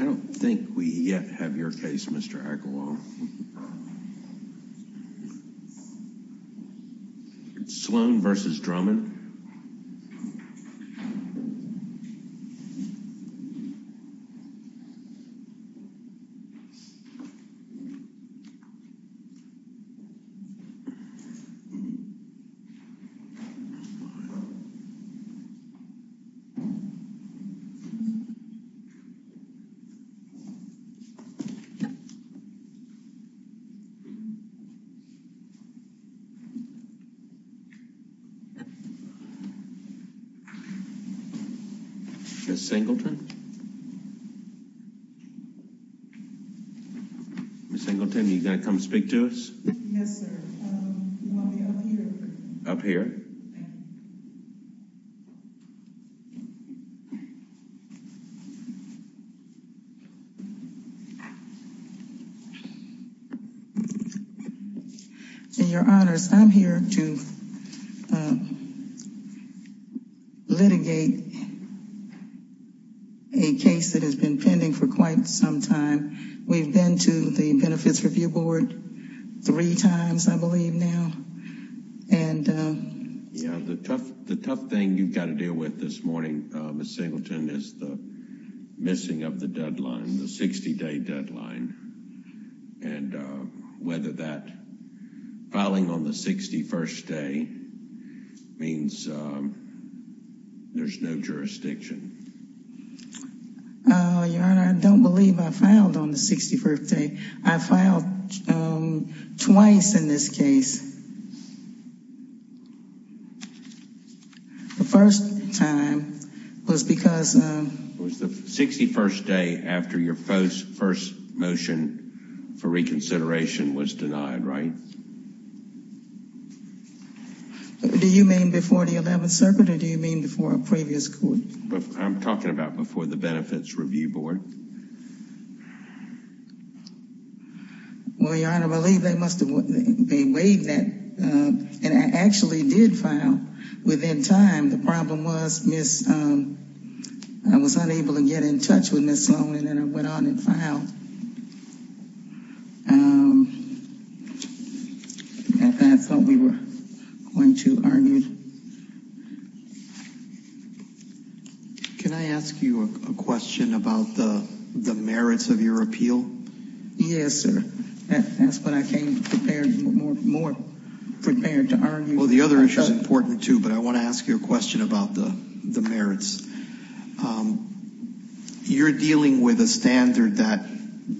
I don't think we yet have your case, Mr. Agarwal. Sloan v. Drummond. Ms. Singleton? Ms. Singleton, are you going to come speak to us? Yes, sir. You want me up here? Up here. In your honors, I'm here to litigate a case that has been pending for quite some time. We've been to the Benefits Review Board three times, I believe, now. Yeah, the tough thing you've got to deal with this morning, Ms. Singleton, is the missing of the deadline, the 60-day deadline, and whether that, filing on the 61st day, means there's no jurisdiction. Your Honor, I don't believe I filed on the 61st day. I filed twice in this case. The first time was because... It was the 61st day after your first motion for reconsideration was denied, right? Do you mean before the 11th Circuit, or do you mean before a previous court? I'm talking about before the Benefits Review Board. Well, Your Honor, I believe they must have weighed that, and I actually did file within time. The problem was I was unable to get in touch with Ms. Sloan, and then I went on and filed. And that's what we were going to argue. Can I ask you a question about the merits of your appeal? Yes, sir. That's what I came prepared, more prepared to argue. Well, the other issue is important, too, but I want to ask you a question about the merits. You're dealing with a standard that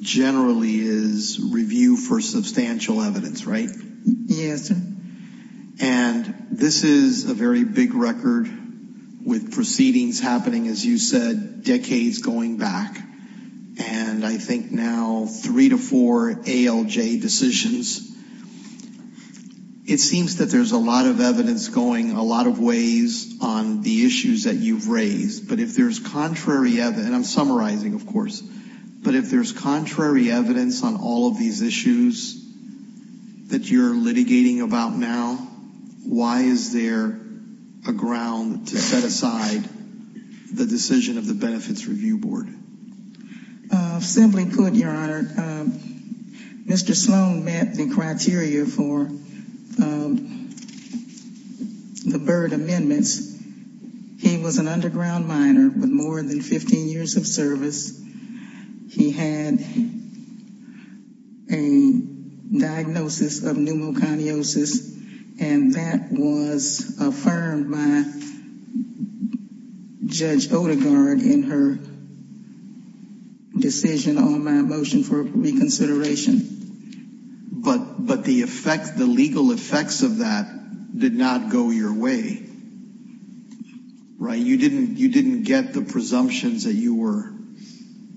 generally is review for substantial evidence, right? Yes, sir. And this is a very big record with proceedings happening, as you said, decades going back. And I think now three to four ALJ decisions. It seems that there's a lot of evidence going a lot of ways on the issues that you've raised. But if there's contrary evidence, and I'm summarizing, of course, but if there's contrary evidence on all of these issues that you're litigating about now, why is there a ground to set aside the decision of the Benefits Review Board? Simply put, Your Honor, Mr. Sloan met the criteria for the Byrd amendments. He was an underground miner with more than 15 years of service. He had a diagnosis of pneumoconiosis, and that was affirmed by Judge Odegaard in her decision on my motion for reconsideration. But the effect, the legal effects of that did not go your way, right? You didn't get the presumptions that you were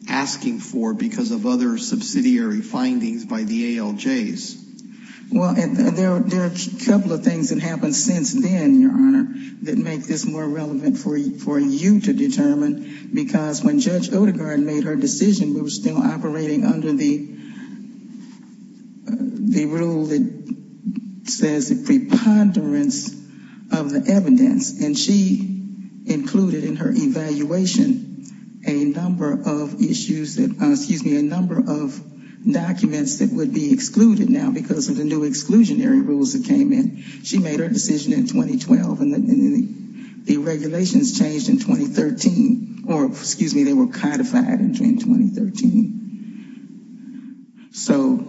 asking for because of other subsidiary findings by the ALJs. Well, there are a couple of things that happened since then, Your Honor, that make this more relevant for you to determine. Because when Judge Odegaard made her decision, we were still operating under the rule that says the preponderance of the evidence. And she included in her evaluation a number of issues that, excuse me, a number of documents that would be excluded now because of the new exclusionary rules that came in. She made her decision in 2012, and the regulations changed in 2013, or excuse me, they were codified in 2013. So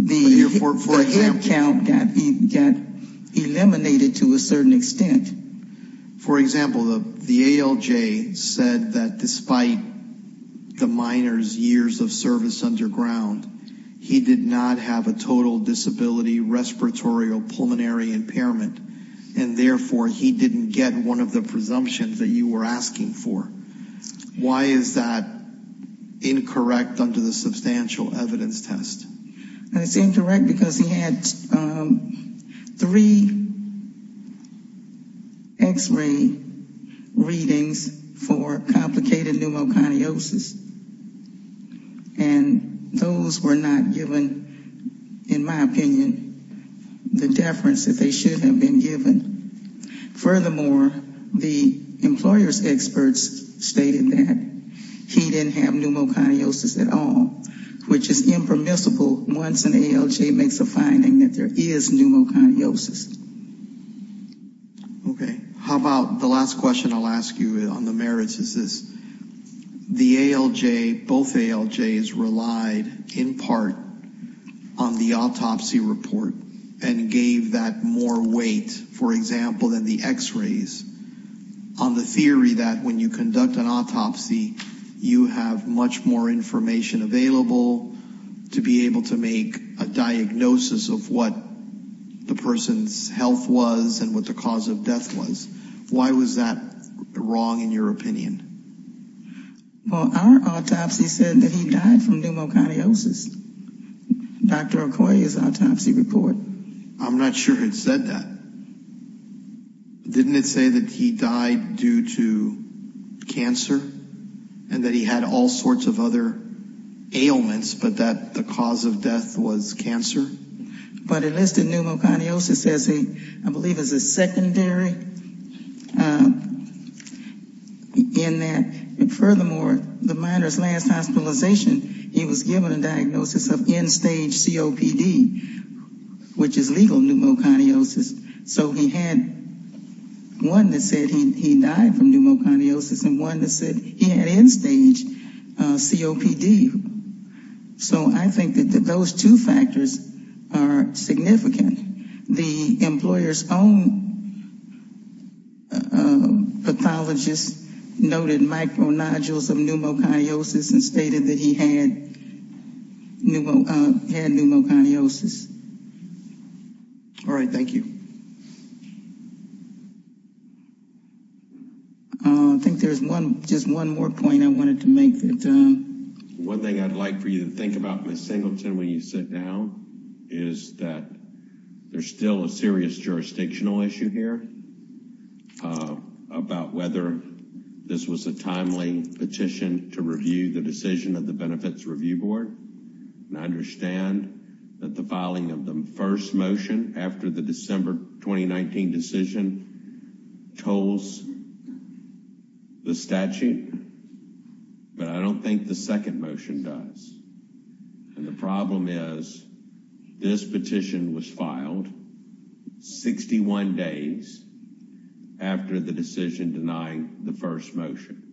the head count got eliminated to a certain extent. For example, the ALJ said that despite the miner's years of service underground, he did not have a total disability, respiratory, or pulmonary impairment. And therefore, he didn't get one of the presumptions that you were asking for. Why is that incorrect under the substantial evidence test? It's incorrect because he had three x-ray readings for complicated pneumoconiosis. And those were not given, in my opinion, the deference that they should have been given. Furthermore, the employer's experts stated that he didn't have pneumoconiosis at all, which is impermissible once an ALJ makes a finding that there is pneumoconiosis. Okay. How about the last question I'll ask you on the merits is this. The ALJ, both ALJs relied in part on the autopsy report and gave that more weight, for example, than the x-rays on the theory that when you conduct an autopsy, you have much more information available to be able to make a diagnosis of what the person's health was and what the cause of death was. Why was that wrong, in your opinion? Well, our autopsy said that he died from pneumoconiosis. Dr. Okoye's autopsy report. I'm not sure it said that. Didn't it say that he died due to cancer and that he had all sorts of other ailments, but that the cause of death was cancer? But it listed pneumoconiosis as a, I believe, as a secondary in that, and furthermore, the minor's last hospitalization, he was given a diagnosis of end-stage COPD, which is legal pneumoconiosis. So he had one that said he died from pneumoconiosis and one that said he had end-stage COPD. So I think that those two factors are significant. The employer's own pathologist noted micro-nodules of pneumoconiosis and stated that he had pneumoconiosis. All right. Thank you. I think there's one, just one more point I wanted to make. One thing I'd like for you to think about, Ms. Singleton, when you sit down, is that there's still a serious jurisdictional issue here about whether this was a timely petition to review the decision of the Benefits Review Board. And I understand that the filing of the first motion after the December 2019 decision tolls the statute, but I don't think the second motion does. And the problem is, this petition was filed 61 days after the decision denying the first motion.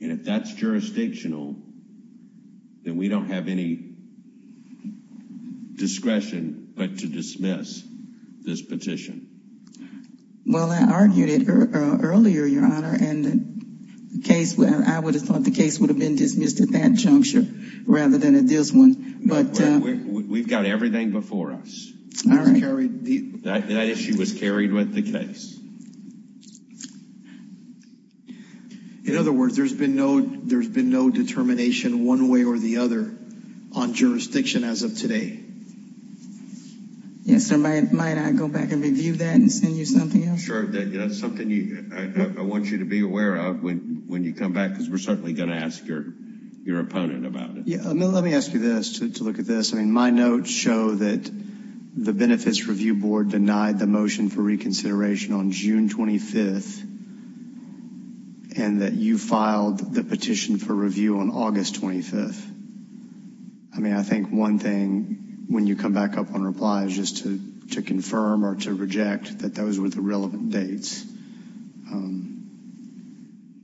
And if that's jurisdictional, then we don't have any discretion but to dismiss this petition. Well, I argued it earlier, Your Honor, and I would have thought the case would have been dismissed at that juncture rather than at this one. No, we've got everything before us. That issue was carried with the case. In other words, there's been no determination one way or the other on jurisdiction as of today. Yes, sir. Might I go back and review that and send you something else? Sure. That's something I want you to be aware of when you come back, because we're certainly going to ask your opponent about it. Yeah, let me ask you this to look at this. I mean, my notes show that the Benefits Review Board denied the motion for reconsideration on June 25th and that you filed the petition for review on August 25th. I mean, I think one thing when you come back up on reply is just to confirm or to reject that those were the relevant dates.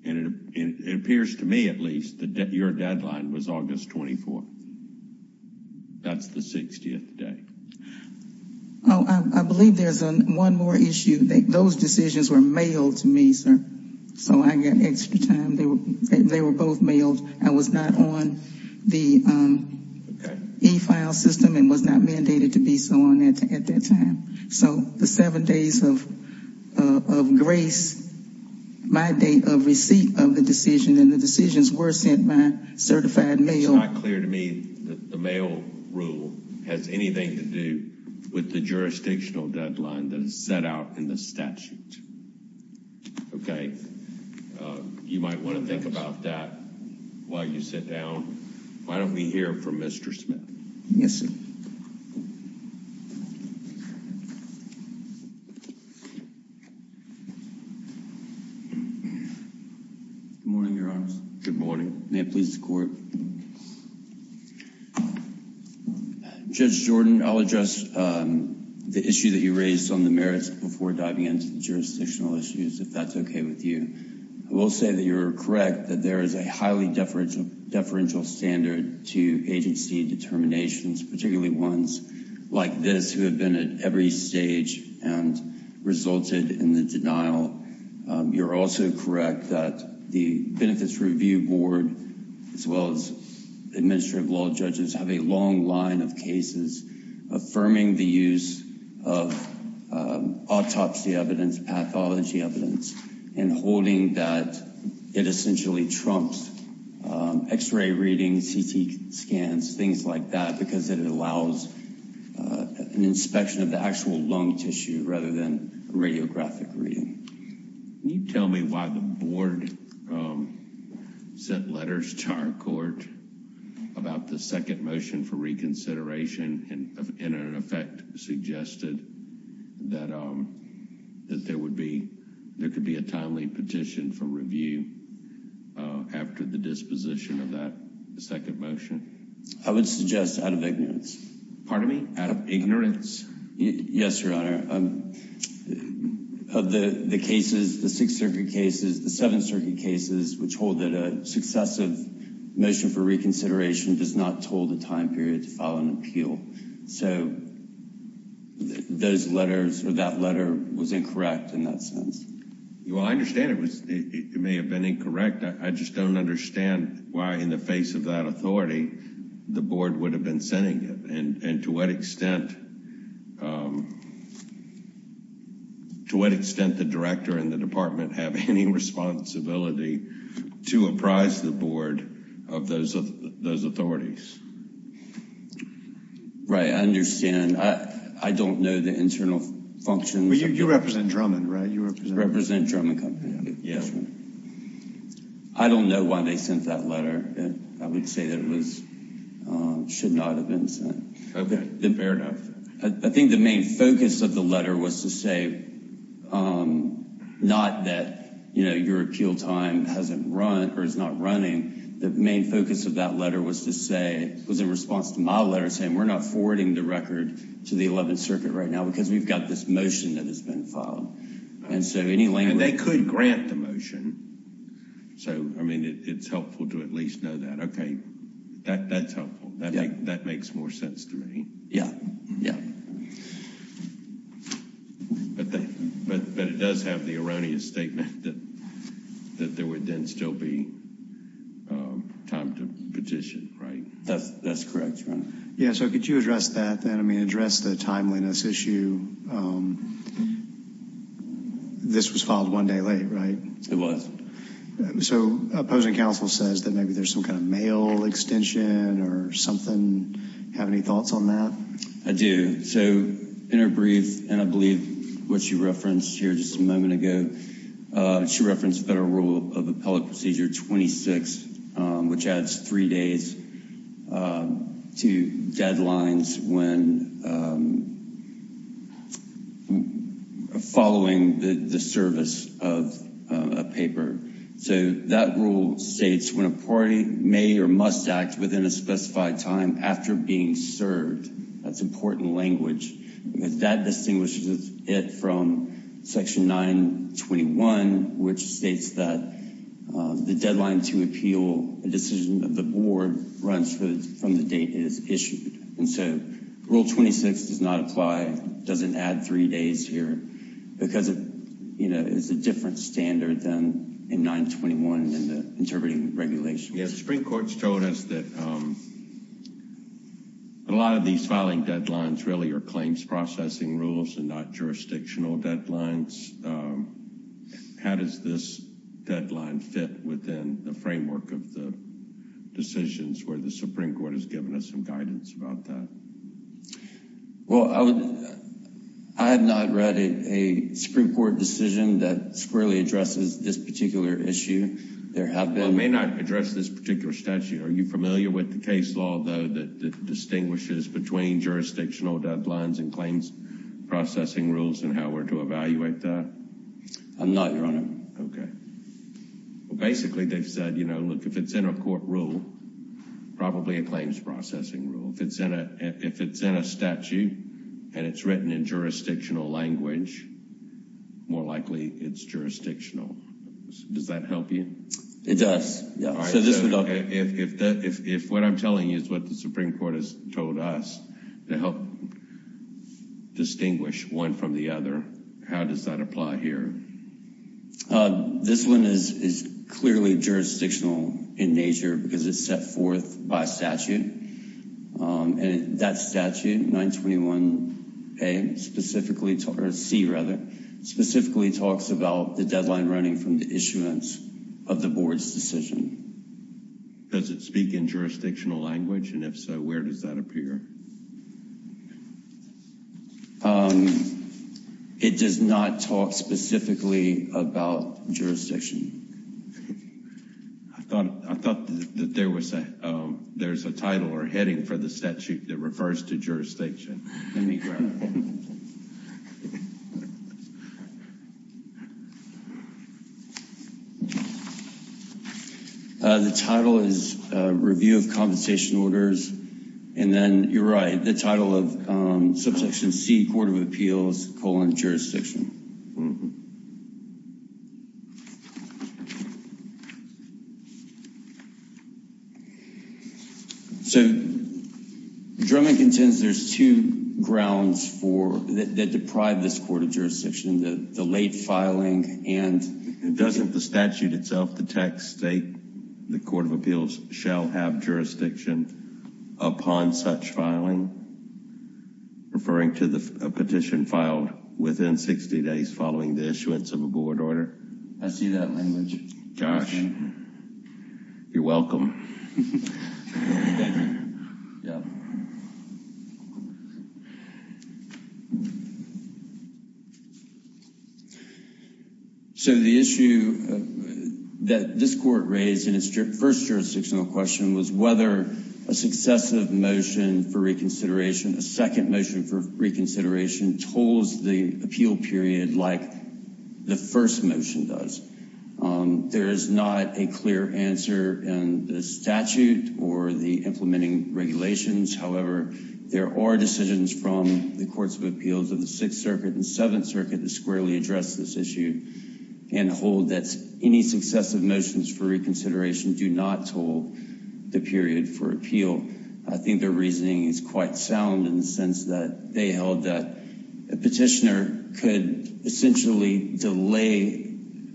And it appears to me, at least, that your deadline was August 24th. That's the 60th day. Oh, I believe there's one more issue. Those decisions were mailed to me, sir. So I got extra time. They were both mailed. I was not on the e-file system and was not mandated to be so on at that time. So the seven days of grace, my date of receipt of the decision, and the decisions were sent by certified mail. It's not clear to me that the mail rule has anything to do with the jurisdictional deadline that is set out in the statute. Okay. You might want to think about that while you sit down. Why don't we hear from Mr. Smith? Good morning, Your Honors. Good morning. Judge Jordan, I'll address the issue that you raised on the merits before diving into the jurisdictional issues, if that's okay with you. I will say that you're correct that there is a highly deferential standard to agency determinations, particularly ones like this who have been at every stage and resulted in the denial. You're also correct that the Benefits Review Board, as well as administrative law judges, have a long line of cases affirming the use of autopsy evidence, pathology evidence, and holding that it essentially trumps x-ray readings, CT scans, things like that, because it allows an inspection of the actual lung tissue rather than radiographic reading. Can you tell me why the board sent letters to our court about the second motion for reconsideration and in effect suggested that there could be a timely petition for review after the disposition of that second motion? I would suggest out of ignorance. Pardon me? Out of ignorance? Yes, Your Honor. Of the cases, the Sixth Circuit cases, the Seventh Circuit cases, which hold that a successive motion for reconsideration does not toll the time period to file an appeal. So those letters or that letter was incorrect in that sense. Well, I understand it may have been incorrect. The board would have been sending it, and to what extent the director and the department have any responsibility to apprise the board of those authorities? Right, I understand. I don't know the internal functions. You represent Drummond, right? I represent Drummond Company. I don't know why they sent that letter. I would say that it should not have been sent. Fair enough. I think the main focus of the letter was to say not that your appeal time hasn't run or is not running. The main focus of that letter was in response to my letter saying we're not forwarding the record to the Eleventh Circuit right now because we've got this motion that has been filed. And they could grant the motion. It's helpful to at least know that. Okay, that's helpful. That makes more sense to me. Yeah, yeah. But it does have the erroneous statement that there would then still be time to petition, right? That's correct, Your Honor. Yeah, so could you address that then? I mean, address the timeliness issue. This was filed one day late, right? It was. So opposing counsel says that maybe there's some kind of mail extension or something. Have any thoughts on that? I do. So in her brief, and I believe what she referenced here just a moment ago, she referenced Federal Rule of Appellate Procedure 26, which adds three days to deadlines when following the service of a paper. So that rule states when a party may or must act within a specified time after being served. That's important language. Rule 26 does not apply. It doesn't add three days here because it is a different standard than in 921 in the interpreting regulations. Yes, Supreme Court's told us that a lot of these filing deadlines really are claims processing rules and not jurisdictional deadlines. How does this deadline fit within the framework of the decisions where the Supreme Court has given us some guidance about that? Well, I have not read a Supreme Court decision that squarely addresses this particular issue. There have been. I may not address this particular statute. Are you familiar with the case law, though, that distinguishes between jurisdictional deadlines and claims processing rules and how we're to evaluate that? I'm not, Your Honor. Okay. Well, basically they've said, you know, look, if it's in a court rule, probably a claims processing rule. If it's in a statute and it's written in jurisdictional language, more likely it's jurisdictional. Does that help you? It does. If what I'm telling you is what the Supreme Court has told us to help distinguish one from the other, how does that apply here? This one is clearly jurisdictional in nature because it's set forth by statute. And that statute, 921A, specifically, or C, rather, specifically talks about the deadline running from the issuance of the board's decision. Does it speak in jurisdictional language? And if so, where does that appear? It does not talk specifically about jurisdiction. I thought that there was a title or heading for the statute that refers to jurisdiction. Let me grab it. The title is Review of Compensation Orders. And then, you're right, the title of Subsection C, Court of Appeals, colon, jurisdiction. So, Drummond contends there's two grounds that deprive this court of jurisdiction. The late filing and doesn't the statute itself detect state the Court of Appeals shall have jurisdiction upon such filing, referring to the petition filed within 60 days following the issuance of a board order? I see that language. Josh, you're welcome. So the issue that this court raised in its first jurisdictional question was whether a successive motion for reconsideration, a second motion for reconsideration, tolls the appeal period like the first motion does. There is not a clear answer in the statute or the implementing regulations. However, there are decisions from the Courts of Appeals of the Sixth Circuit and Seventh Circuit that squarely address this issue and hold that any successive motions for reconsideration do not toll the period for appeal. I think their reasoning is quite sound in the sense that they held that a petitioner could essentially delay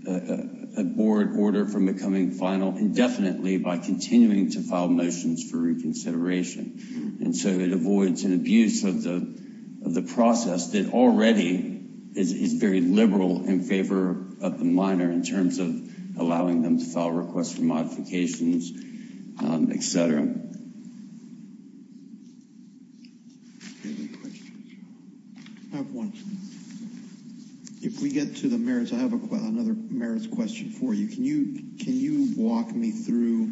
a board order from becoming final indefinitely by continuing to file motions for reconsideration. And so it avoids an abuse of the process that already is very liberal in favor of the minor in terms of allowing them to file requests for modifications, etc. If we get to the merits, I have another merits question for you. Can you walk me through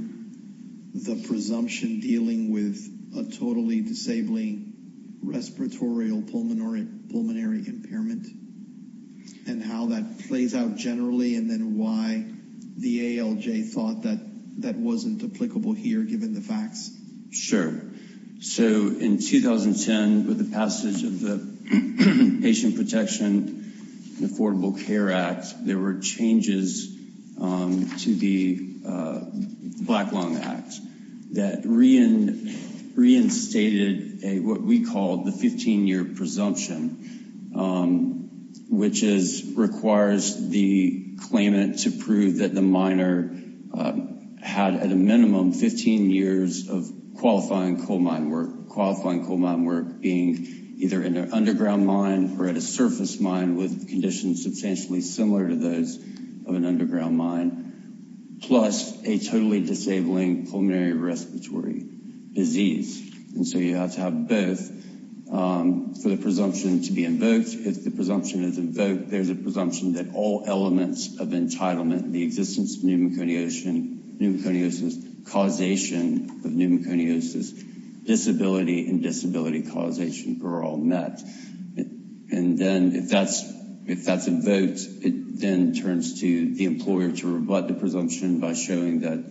the presumption dealing with a respiratory pulmonary impairment and how that plays out generally and then why the ALJ thought that that wasn't applicable here given the facts? Sure. So in 2010 with the passage of the Patient Protection and Affordable Care Act, there were changes to the Black Lung Act that reinstated what we call the 15 year presumption, which requires the claimant to prove that the minor had at a minimum 15 years of qualifying coal mine work, qualifying coal mine work being either in an underground mine or at a surface mine with conditions substantially similar to those of an underground mine, plus a totally disabling pulmonary respiratory disease. And so you have to have both for the presumption to be invoked. If the presumption is invoked, there's a presumption that all elements of entitlement, the existence of pneumoconiosis, causation of pneumoconiosis, disability and disability causation are all met. And then if that's invoked, it then turns to the employer to rebut the presumption by showing that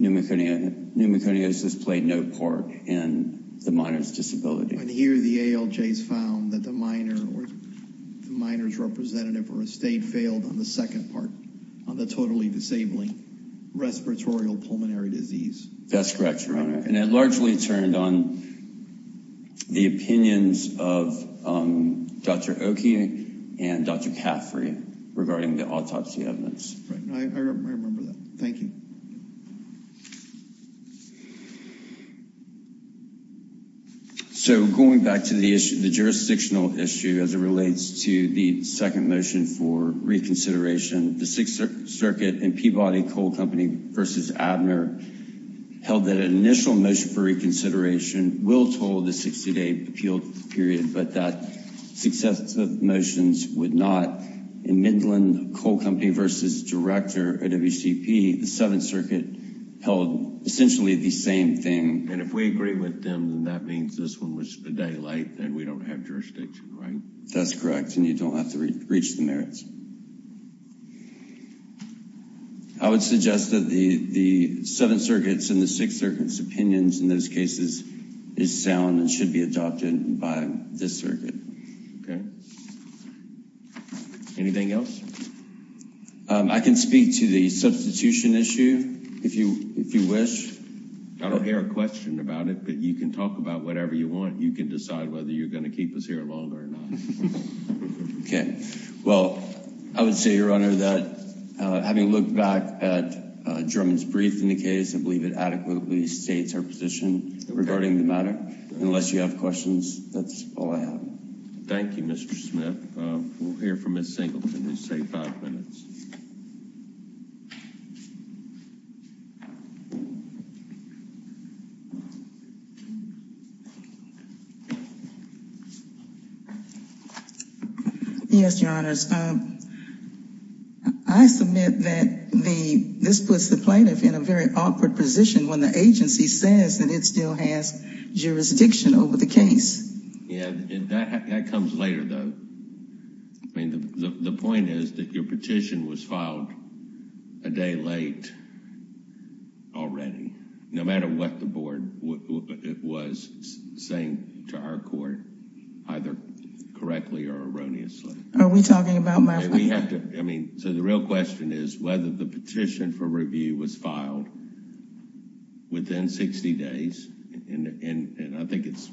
pneumoconiosis played no part in the minor's disability. And here the ALJs found that the minor's representative or estate failed on the second part, on the totally disabling respiratory pulmonary disease. That's correct, Your Honor. And it largely turned on the opinions of Dr. Oki and Dr. Caffrey regarding the autopsy evidence. I remember that. Thank you. So going back to the issue, the jurisdictional issue as it relates to the second motion for reconsideration, the initial motion for reconsideration will toll the 60-day appeal period, but that successive motions would not. In Midland Coal Company v. Director at WCP, the Seventh Circuit held essentially the same thing. And if we agree with them, then that means this one was a daylight and we don't have jurisdiction, right? That's correct. And you don't have to reach the merits. I would suggest that the Seventh Circuit's and the Sixth Circuit's opinions in those cases is sound and should be adopted by this circuit. Anything else? I can speak to the substitution issue if you wish. I don't hear a question about it, but you can talk about whatever you want. You can decide whether you're going to keep us here longer or not. Well, I would say, Your Honor, that having looked back at German's brief in the case, I believe it adequately states our position regarding the matter. Unless you have questions, that's all I have. Thank you, Mr. Smith. We'll hear from Ms. Singleton who's saved five minutes. Yes, Your Honors, I submit that this puts the plaintiff in a very awkward position when the agency says that it still has jurisdiction over the case. That comes later, though. I mean, the point is that your petition was filed a day late already, no matter what the board was saying to our court, either correctly or erroneously. So the real question is whether the petition for review was filed within 60 days. And I think it's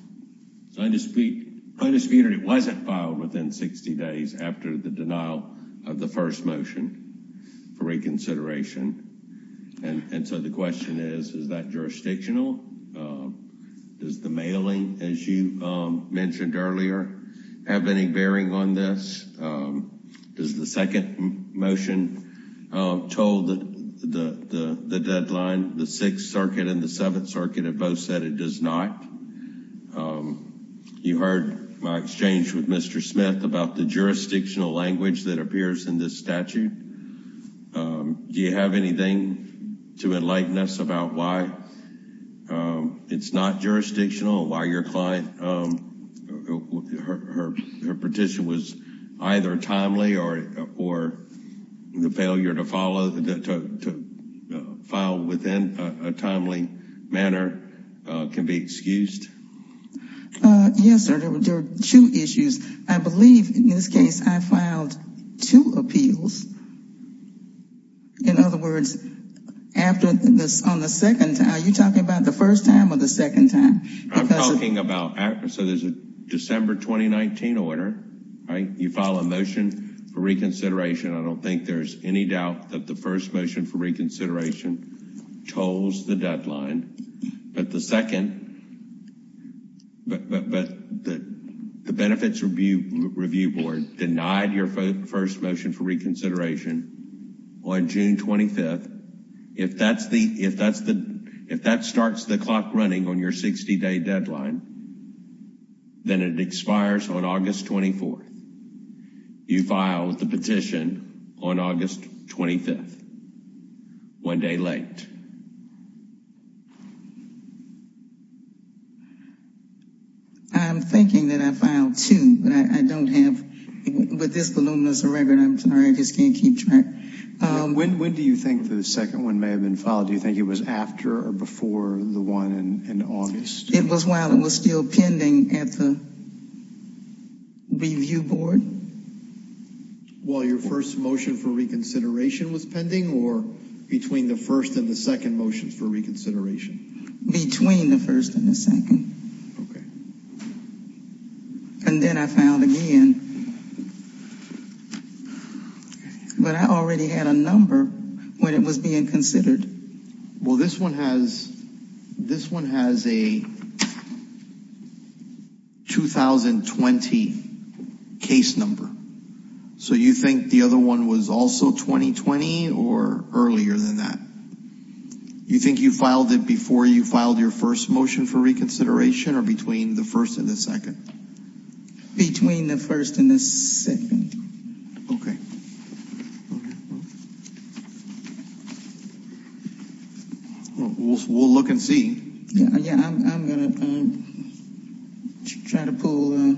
undisputed it wasn't filed within 60 days after the denial of the first motion for reconsideration. And so the question is, is that jurisdictional? Does the mailing, as you mentioned earlier, have any bearing on this? Does the second motion told the deadline, the Sixth Circuit and the Seventh Circuit have both said it does not? You heard my exchange with Mr. Smith about the jurisdictional language that appears in this statute. Do you have anything to enlighten us about why it's not jurisdictional? Why your client, her petition was either timely or the failure to follow, to file within a timely manner can be excused? Yes, sir. There are two issues. I believe in this case I filed two appeals. In other words, on the second time, are you talking about the first time or the second time? I'm talking about, so there's a December 2019 order, right? You file a motion for reconsideration. I don't think there's any doubt that the first motion for reconsideration tolls the deadline. But the second, but the Benefits Review Board denied your first motion for reconsideration on June 25th. If that starts the clock running on your 60 day deadline, then it expires on August 24th. You filed the petition on August 25th, one day late. I'm thinking that I filed two, but I don't have, with this voluminous record, I'm sorry, I just can't keep track. When do you think the second one may have been filed? Do you think it was after or before the one in August? It was while it was still pending at the Review Board. While your first motion for reconsideration was pending or between the first and the second motion for reconsideration? Between the first and the second. Okay. And then I found again, but I already had a number when it was being considered. Well, this one has, this one has a 2020 case number. So you think the other one was also 2020 or earlier than that? You think you found it? Between the first and the second. Between the first and the second. Okay. We'll look and see. I'm going to try to pull up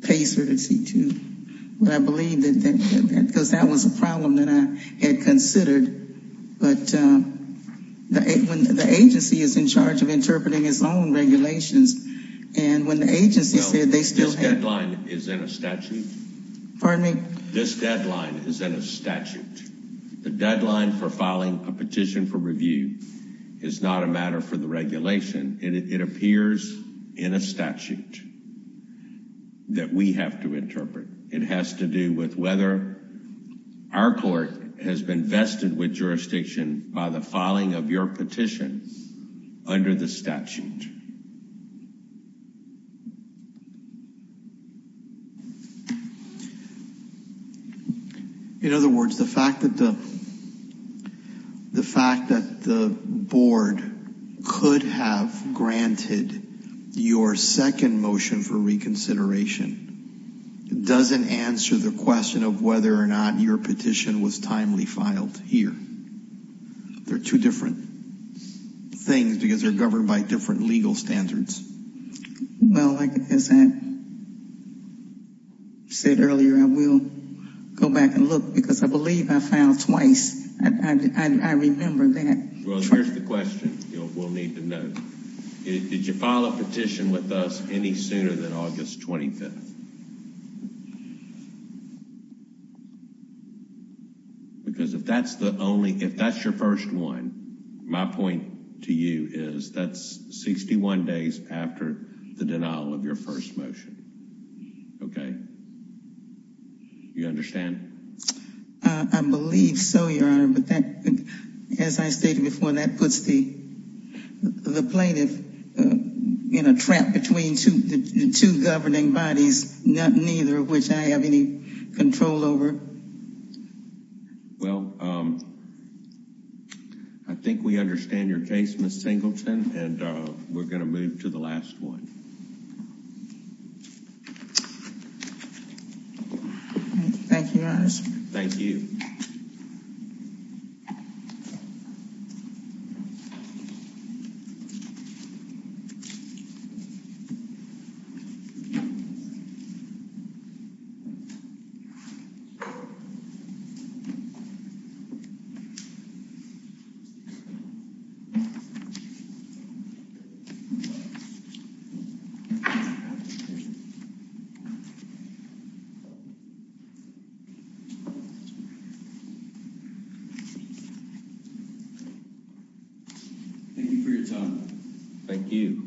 the PACE or the C2. Because that was a problem that I had considered. But the agency is in charge of interpreting its own regulations. And when the agency said they still had. This deadline is in a statute. The deadline for filing a petition for review is not a matter for the regulation. It appears in a statute that we have to interpret. It has to do with whether our court has been vested with jurisdiction by the filing of your petition under the statute. In other words, the fact that the fact that the board could have granted your second motion for reconsideration doesn't answer the question of whether or not your petition was reviewed. It's a different thing because they're governed by different legal standards. Well, like I said earlier, I will go back and look because I believe I found twice. I remember that. Well, here's the question we'll need to know. Did you file a petition with us any sooner than August 25th? Because if that's the only if that's your first one, my point to you is that's 61 days after the denial of your first motion. Okay. You understand? I believe so, Your Honor. But as I stated before, that puts the plaintiff in a trap between two governing bodies, neither of which I have any control over. Well, I think we understand your case, Ms. Singleton, and we're going to move to the last one. Thank you, Your Honor. Thank you. Thank you for your time. Thank you.